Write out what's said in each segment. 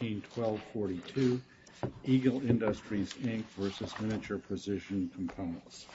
18-12-42 Eagle Industries, Inc. v. Miniature Precision Components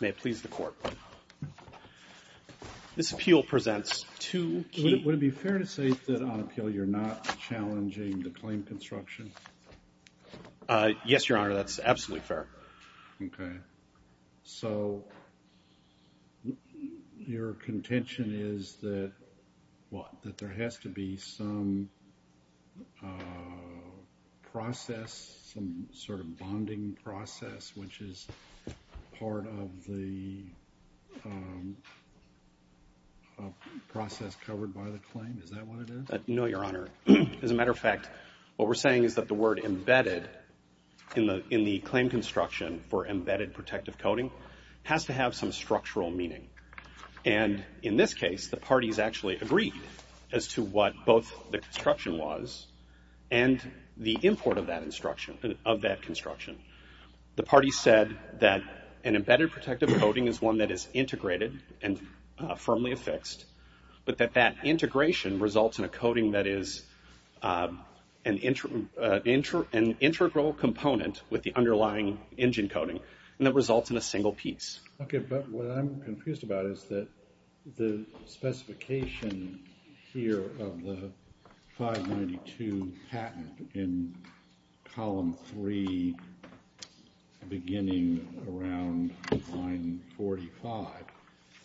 May it please the this appeal presents to would it be fair to say that on appeal you're not challenging the claim construction yes your honor that's absolutely fair okay so your contention is that what that there has to be some process some sort bonding process which is part of the process covered by the claim is that what it is no your honor as a matter of fact what we're saying is that the word embedded in the in the claim construction for embedded protective coding has to have some structural meaning and in this case the parties actually agreed as to what both the construction was and the import of that construction of that construction the party said that an embedded protective coding is one that is integrated and firmly affixed but that that integration results in a coding that is an intro intro an integral component with the underlying engine coding and that results in a single piece okay but what column three beginning around line 45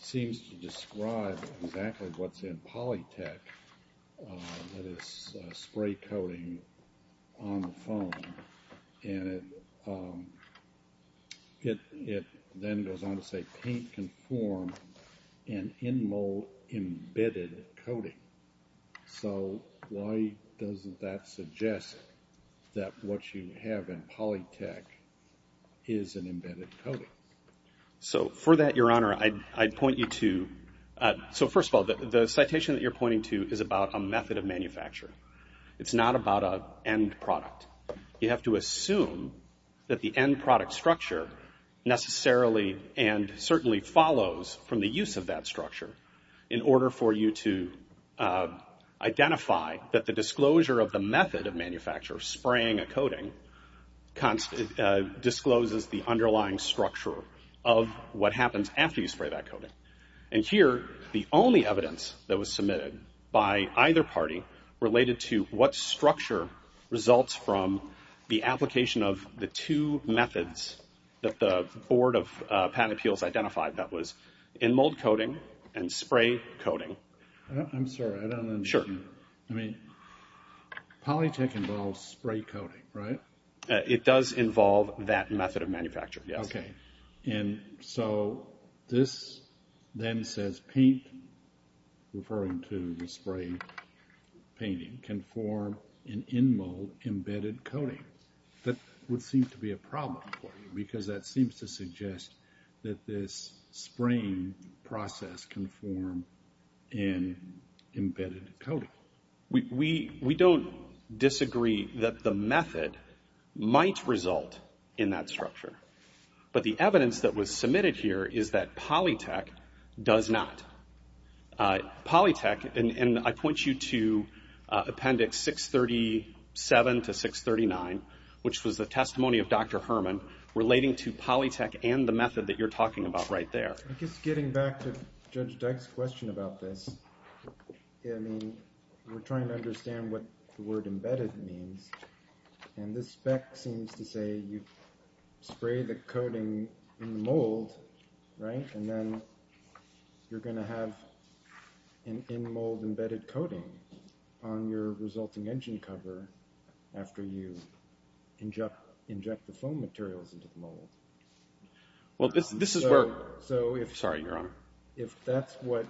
seems to describe exactly what's in polytech that is spray coating on the phone and it it then goes on to say and in mold embedded coating so why doesn't that suggest that what you have in polytech is an embedded coating so for that your honor I'd point you to so first of all the citation that you're pointing to is about a method of manufacturing it's not about a end product you have to assume that the end product structure necessarily and certainly follows from the use of that structure in order for you to identify that the disclosure of the method of manufacture spraying a coating constant discloses the underlying structure of what happens after you spray that coding and here the only evidence that was submitted by either party related to what structure results from the methods that the Board of Patent Appeals identified that was in mold coating and spray coating sure I mean polytech involves spray coating right it does involve that method of manufacture yes okay and so this then says paint referring to the spray painting can form an in mold embedded coating that would seem to be a problem for you because that seems to suggest that this spraying process can form an embedded coating we we don't disagree that the method might result in that structure but the evidence that was submitted here is that polytech does not polytech and I point you to appendix 637 to 639 which was the testimony of dr. Herman relating to polytech and the method that you're talking about right there just getting back to judge Dex question about this I mean we're trying to understand what the word embedded means and this spec seems to say you spray the coating mold right and then you're gonna have an in cover after you inject inject the foam materials into the mold well this this is work so if sorry you're on if that's what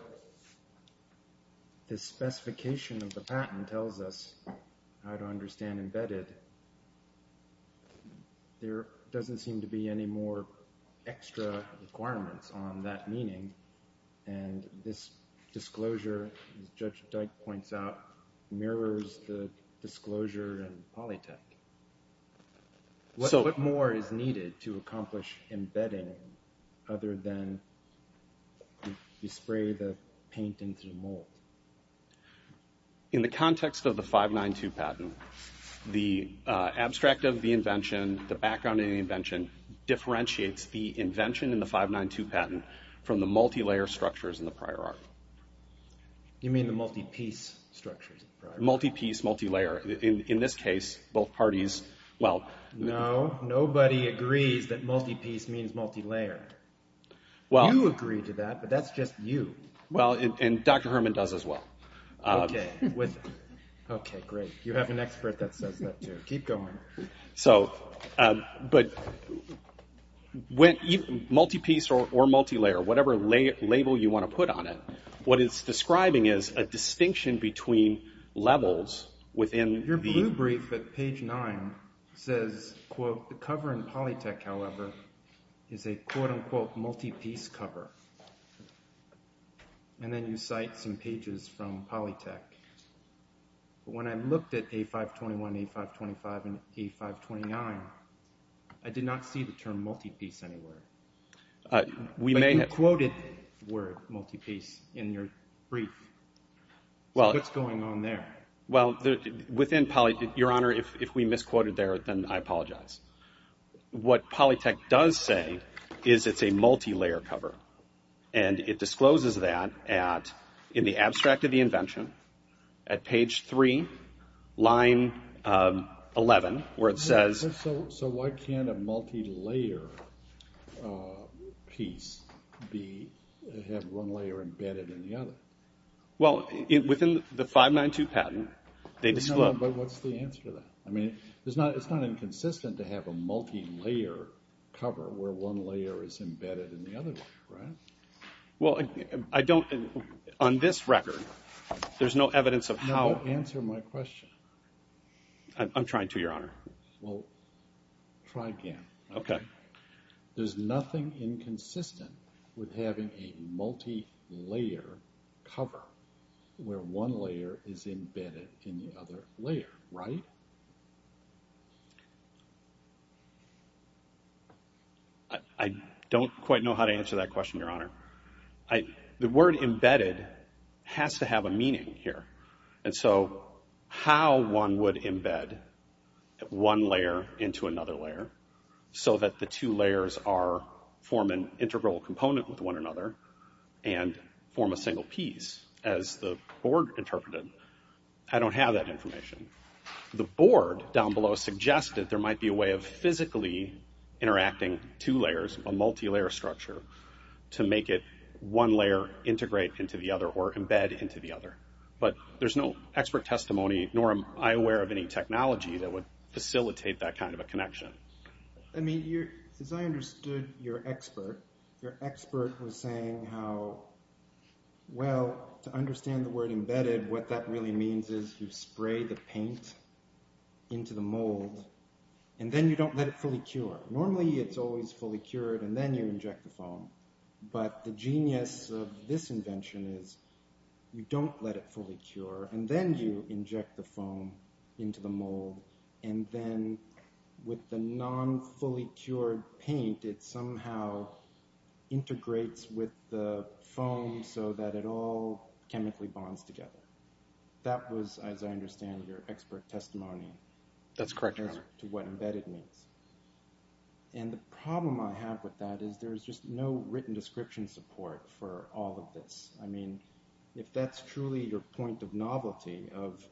this specification of the patent tells us how to understand embedded there doesn't seem to be any more extra requirements on that meaning and this disclosure judge Dyke points out mirrors the disclosure and polytech so what more is needed to accomplish embedding other than you spray the paint into the mold in the context of the five nine two patent the abstract of the invention the background any invention differentiates the invention in the five nine two patent from the multi-layer structures in the prior art you mean the multi-piece structures multi-piece multi-layer in this case both parties well no nobody agrees that multi-piece means multi-layer well you agree to that but that's just you well and dr. Herman does as well okay okay great you have an expert that says keep going so but when multi-piece or multi-layer whatever label you want to put on it what it's describing is a distinction between levels within your brief at page 9 says quote the cover in polytech however is a quote-unquote multi-piece cover and then you cite some pages from polytech when I looked at a 521 a 525 and a 529 I did not see the term multi-piece anywhere we may have quoted word multi-piece in your brief well it's going on there well within poly your honor if we misquoted there then I apologize what polytech does say is it's a multi-layer cover and it discloses that at in the abstract of the invention at page 3 line 11 where it piece be embedded in the other well in within the 592 patent they just look but what's the answer that I mean there's not it's not inconsistent to have a multi-layer cover where one layer is embedded in the other well I don't think on this record there's no evidence of how answer my question I'm trying to try again okay there's nothing inconsistent with having a multi-layer cover where one layer is embedded in the other layer right I don't quite know how to answer that question your honor I the word embedded has to have a meaning here and so how one would embed one layer into another layer so that the two layers are form an integral component with one another and form a single piece as the board interpreted I don't have that information the board down below suggested there might be a way of physically interacting two layers a multi-layer structure to make it one layer integrate into the other or embed into the other but there's no expert testimony nor am I aware of any technology that would facilitate that kind of a connection I mean you as I understood your expert your expert was saying how well to understand the word embedded what that really means is you spray the paint into the mold and then you don't let it fully cure normally it's always fully cured and then you don't let it fully cure and then you inject the foam into the mold and then with the non fully cured paint it somehow integrates with the foam so that it all chemically bonds together that was as I understand your expert testimony that's correct to what embedded means and the problem I have with that is there's just no written description support for all of this I that's truly your point of novelty of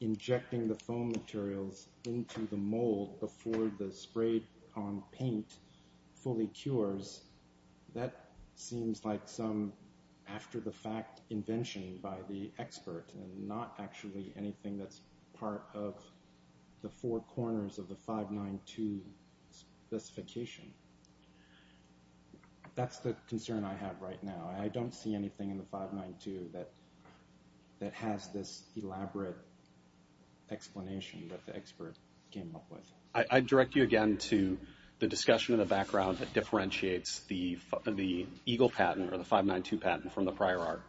injecting the foam materials into the mold before the sprayed on paint fully cures that seems like some after-the-fact invention by the expert and not actually anything that's part of the four corners of the 592 specification that's the concern I have right now I don't see anything in the 592 that that has this elaborate explanation that the expert came up with I direct you again to the discussion in the background that differentiates the the Eagle patent or the 592 patent from the prior art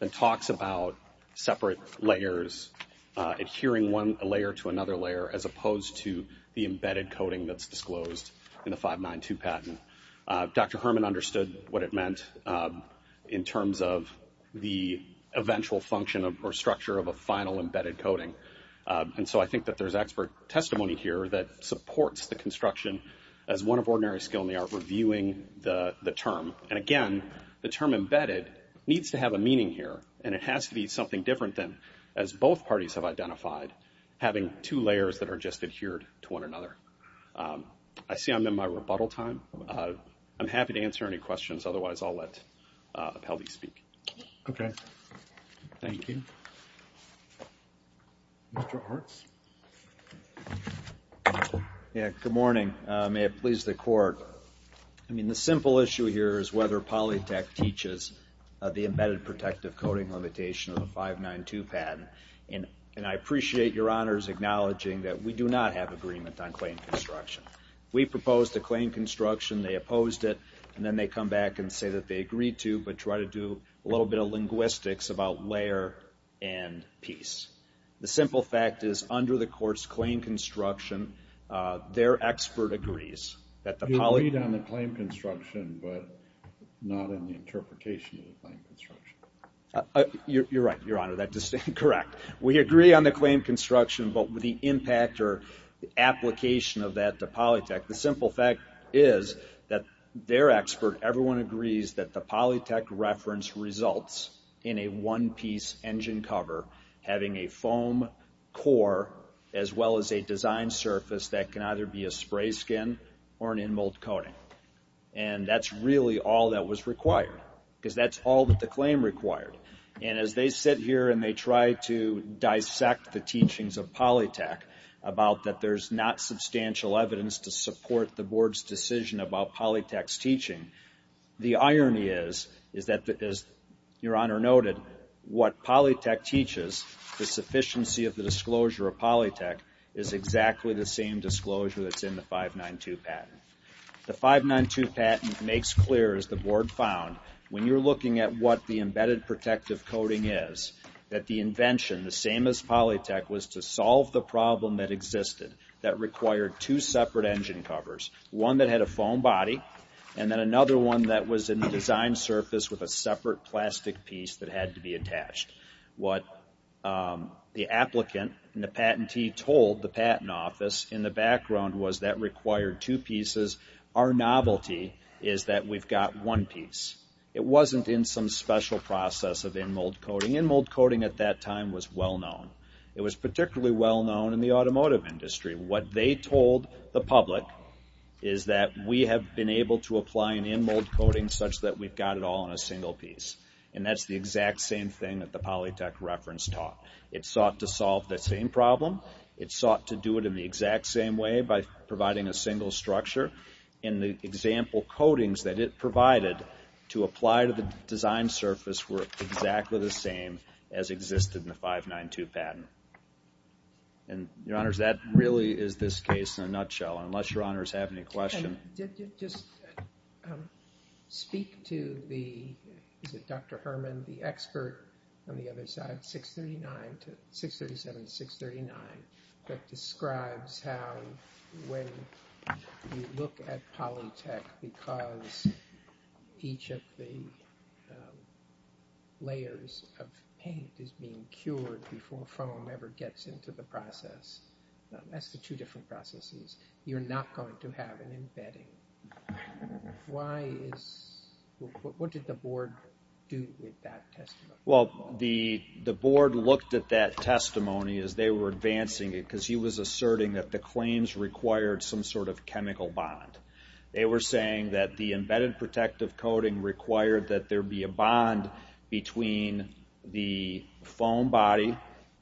that talks about separate layers adhering one layer to another layer as opposed to the embedded coating that's disclosed in the 592 patent dr. Herman understood what it terms of the eventual function of her structure of a final embedded coating and so I think that there's expert testimony here that supports the construction as one of ordinary skill in the art reviewing the term and again the term embedded needs to have a meaning here and it has to be something different than as both parties have identified having two layers that are just adhered to one another I see I'm in my rebuttal time I'm happy to answer any questions otherwise I'll let healthy speak okay thank you yeah good morning may it please the court I mean the simple issue here is whether polytech teaches the embedded protective coating limitation of the 592 patent and and I appreciate your honors acknowledging that we do not have agreement on claim construction we proposed a claim construction they come back and say that they agreed to but try to do a little bit of linguistics about layer and piece the simple fact is under the court's claim construction their expert agrees that the poly down the claim construction but not in the interpretation you're right your honor that distinct correct we agree on the claim construction but with the impact or the application of that to polytech the simple fact is that their expert everyone agrees that the polytech reference results in a one-piece engine cover having a foam core as well as a design surface that can either be a spray skin or an in mold coating and that's really all that was required because that's all that the claim required and as they sit here and they try to dissect the teachings of polytech about that there's not substantial evidence to support the board's decision about polytext teaching the irony is is that because your honor noted what polytech teaches the sufficiency of the disclosure of polytech is exactly the same disclosure that's in the 592 patent the 592 patent makes clear as the board found when you're looking at what the embedded protective coating is that the invention the same as polytech was to solve the problem that existed that required two separate engine covers one that had a foam body and then another one that was in the design surface with a separate plastic piece that had to be attached what the applicant and the patentee told the patent office in the background was that required two pieces our novelty is that we've got one piece it wasn't in some special process of in mold coating in mold coating at that time was well known it was particularly well known in the automotive industry what they told the public is that we have been able to apply an in mold coating such that we've got it all in a single piece and that's the exact same thing that the polytech reference taught it sought to solve the same problem it sought to do it in the exact same way by providing a single structure in the example coatings that it provided to apply to the design surface were exactly the same as existed in the 592 patent and your honors that really is this case in a nutshell unless your honors have any question just speak to the is it dr. Herman the expert on the other side 639 to 637 639 that look at polytech because each of the layers of paint is being cured before foam ever gets into the process that's the two different processes you're not going to have an embedding why is what did the board do with that test well the the board looked at that testimony as they were advancing it because he was bond they were saying that the embedded protective coating required that there be a bond between the foam body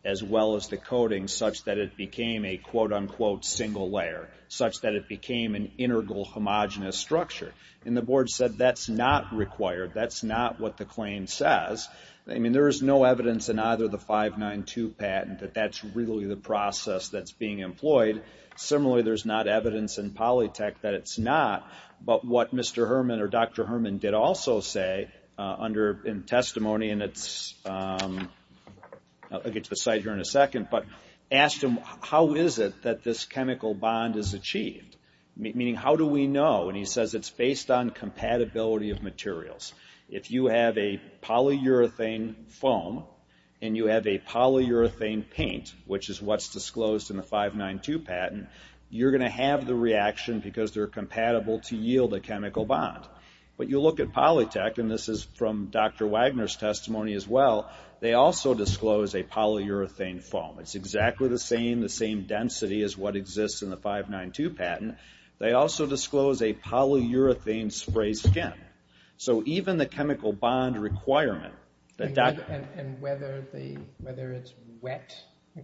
as well as the coating such that it became a quote-unquote single layer such that it became an integral homogenous structure and the board said that's not required that's not what the claim says I mean there is no evidence in either the 592 patent that that's really the process that's being employed similarly there's not evidence in polytech that it's not but what mr. Herman or dr. Herman did also say under in testimony and it's I get to the site here in a second but asked him how is it that this chemical bond is achieved meaning how do we know and he says it's based on compatibility of materials if you have a polyurethane foam and you have a polyurethane paint which is what's disclosed in the 592 patent you're going to have the reaction because they're compatible to yield a chemical bond but you look at polytech and this is from dr. Wagner's testimony as well they also disclose a polyurethane foam it's exactly the same the same density as what exists in the 592 patent they also disclose a polyurethane spray skin so even the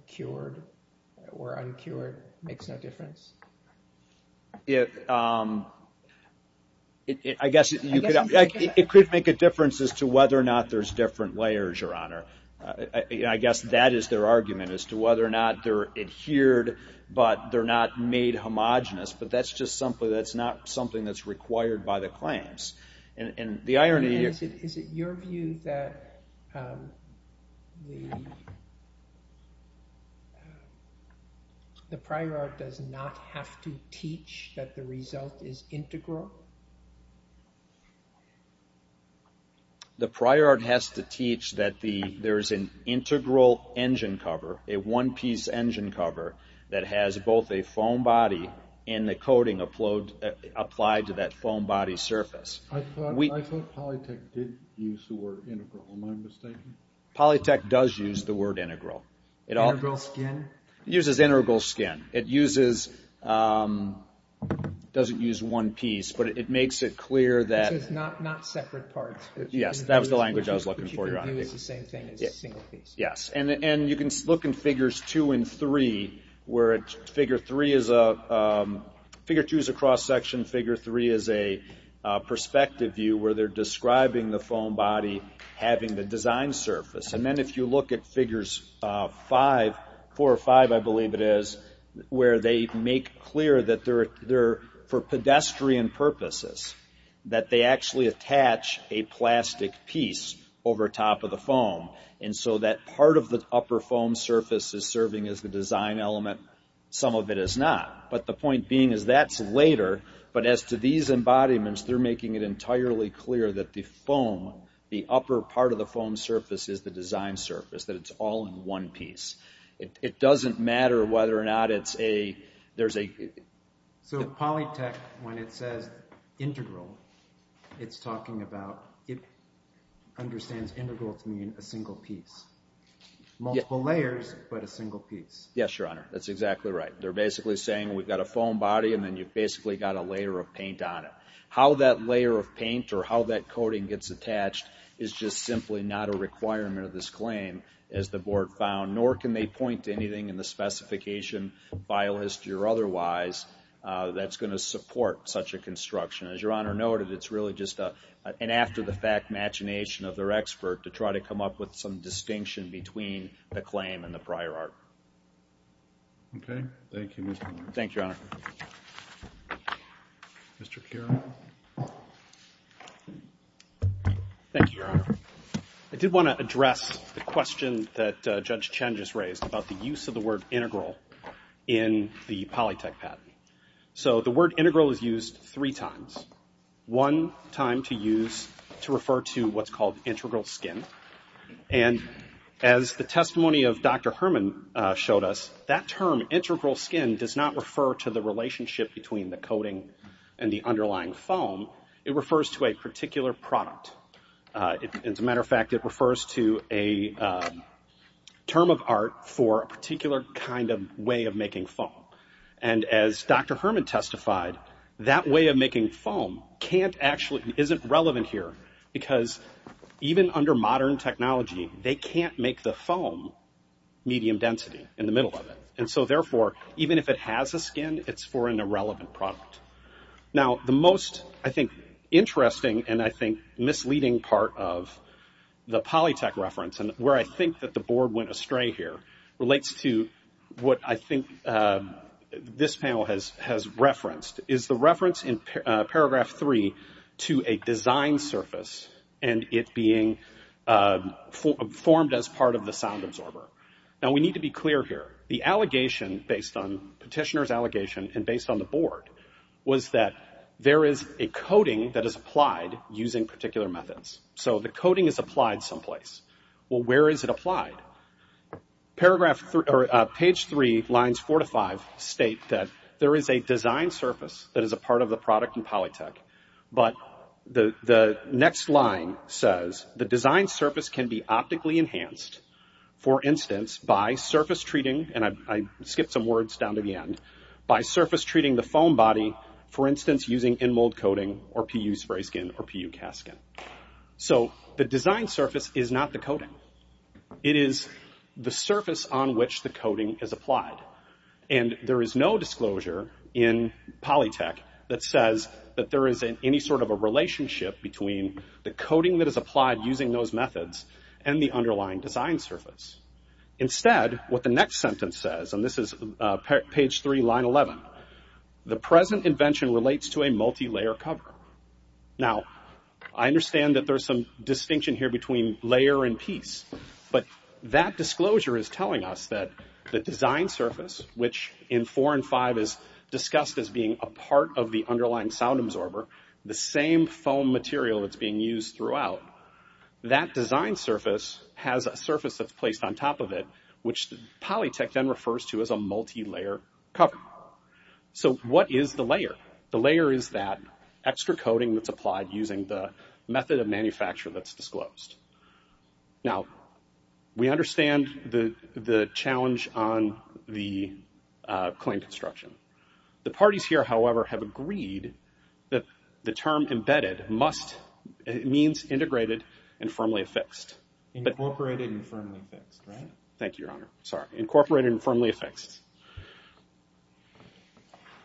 cured or uncured makes no difference it I guess it could make a difference as to whether or not there's different layers your honor I guess that is their argument as to whether or not they're adhered but they're not made homogenous but that's just something that's not something that's required by the claims and the irony is it your view that the the prior art does not have to teach that the result is integral the prior art has to teach that the there is an integral engine cover a one-piece engine cover that has both a foam body and the polytech does use the word integral it all uses integral skin it uses doesn't use one piece but it makes it clear that yes that was the language I was looking for your honor yes and and you can look in figures two and three where it figure three is a figure two is a cross-section figure three is a perspective view where they're describing the foam body having the design surface and then if you look at figures five four or five I believe it is where they make clear that they're there for pedestrian purposes that they actually attach a plastic piece over top of the foam and so that part of the upper foam surface is serving as the element some of it is not but the point being is that's later but as to these embodiments they're making it entirely clear that the foam the upper part of the foam surface is the design surface that it's all in one piece it doesn't matter whether or not it's a there's a so polytech when it says integral it's talking about it understands integral to mean a single piece multiple layers but a single piece yes your honor that's exactly right they're basically saying we've got a foam body and then you've basically got a layer of paint on it how that layer of paint or how that coating gets attached is just simply not a requirement of this claim as the board found nor can they point to anything in the specification by list your otherwise that's going to support such a construction as your honor noted it's really just a and after the fact machination of their expert to try to come up with some distinction between the claim and the prior art okay thank you mr. thank you mr. Karen I did want to address the question that judge changes raised about the use of the word integral in the polytech patent so the word integral is used three times one time to use to refer to what's called integral skin and as the testimony of dr. Herman showed us that term integral skin does not refer to the relationship between the coating and the underlying foam it refers to a particular product it's a matter of fact it refers to a term of art for a particular kind of way of making foam and as dr. Herman testified that way of making foam can't actually isn't relevant here because even under modern technology they can't make the foam medium density in the middle of it and so therefore even if it has a skin it's for an irrelevant product now the most I think interesting and I think misleading part of the polytech reference and where I think that the board went astray here relates to what I think this panel has has referenced is the reference in paragraph three to a design surface and it being formed as part of the sound absorber now we need to be clear here the allegation based on petitioners allegation and based on the board was that there is a coating that is applied using particular methods so the coating is applied someplace well where is it applied paragraph 3 or page 3 lines 4 to 5 state that there is a design surface that is a part of the product in the design surface can be optically enhanced for instance by surface treating and I skip some words down to the end by surface treating the phone body for instance using in mold coating or p.u. spray skin or p.u. casket so the design surface is not the code it is the surface on which the coating is applied and there is no disclosure in polytech that says that there isn't any sort of a relationship between the coating that is applied using those methods and the underlying design surface instead what the next sentence says and this is page 3 line 11 the present invention relates to a multi-layer cover now I understand that there's some distinction here between layer and piece but that disclosure is telling us that the design surface which in four and five is discussed as being a part of the underlying sound absorber the same phone material it's being used throughout that design surface has a surface of placed on top of it which polytech then refers to as a multi-layer so what is the layer the layer is that extra coating that's applied using the method of manufacture that's disclosed now we understand the the challenge on the claim construction the parties here however have agreed that the term embedded must it means integrated and firmly affixed but incorporated and firmly fixed thank you your honor sorry incorporated and firmly affixed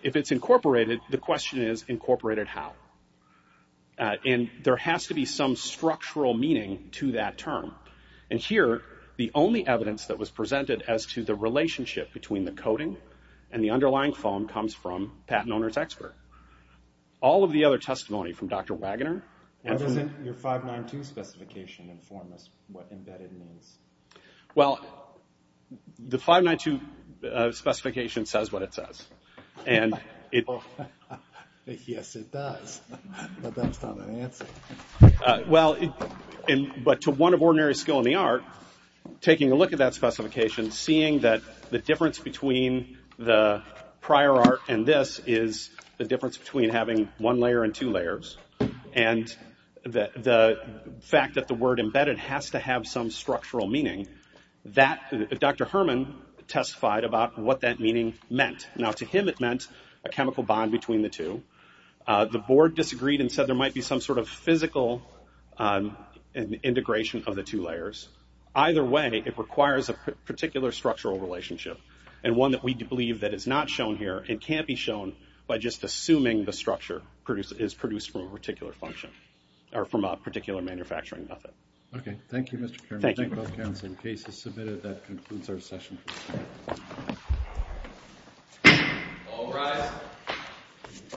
if it's incorporated the question is incorporated how in there has to be some structural meaning to that term and here the only evidence that was presented as to the relationship between the coating and the underlying foam comes from patent owners expert all of the other testimony from dr. Wagoner well the 592 specification says what it says and well in but to one of ordinary skill in the taking a look at that specification seeing that the difference between the prior art and this is the difference between having one layer and two layers and that the fact that the word embedded has to have some structural meaning that dr. Herman testified about what that meaning meant now to him it meant a chemical bond between the two the board disagreed and said there might be some sort of physical integration of the two layers either way it requires a particular structural relationship and one that we believe that is not shown here it can't be shown by just assuming the structure produced is produced from a particular function or from a particular manufacturing method okay thank you mr. chairman thank you both counseling cases submitted that concludes our session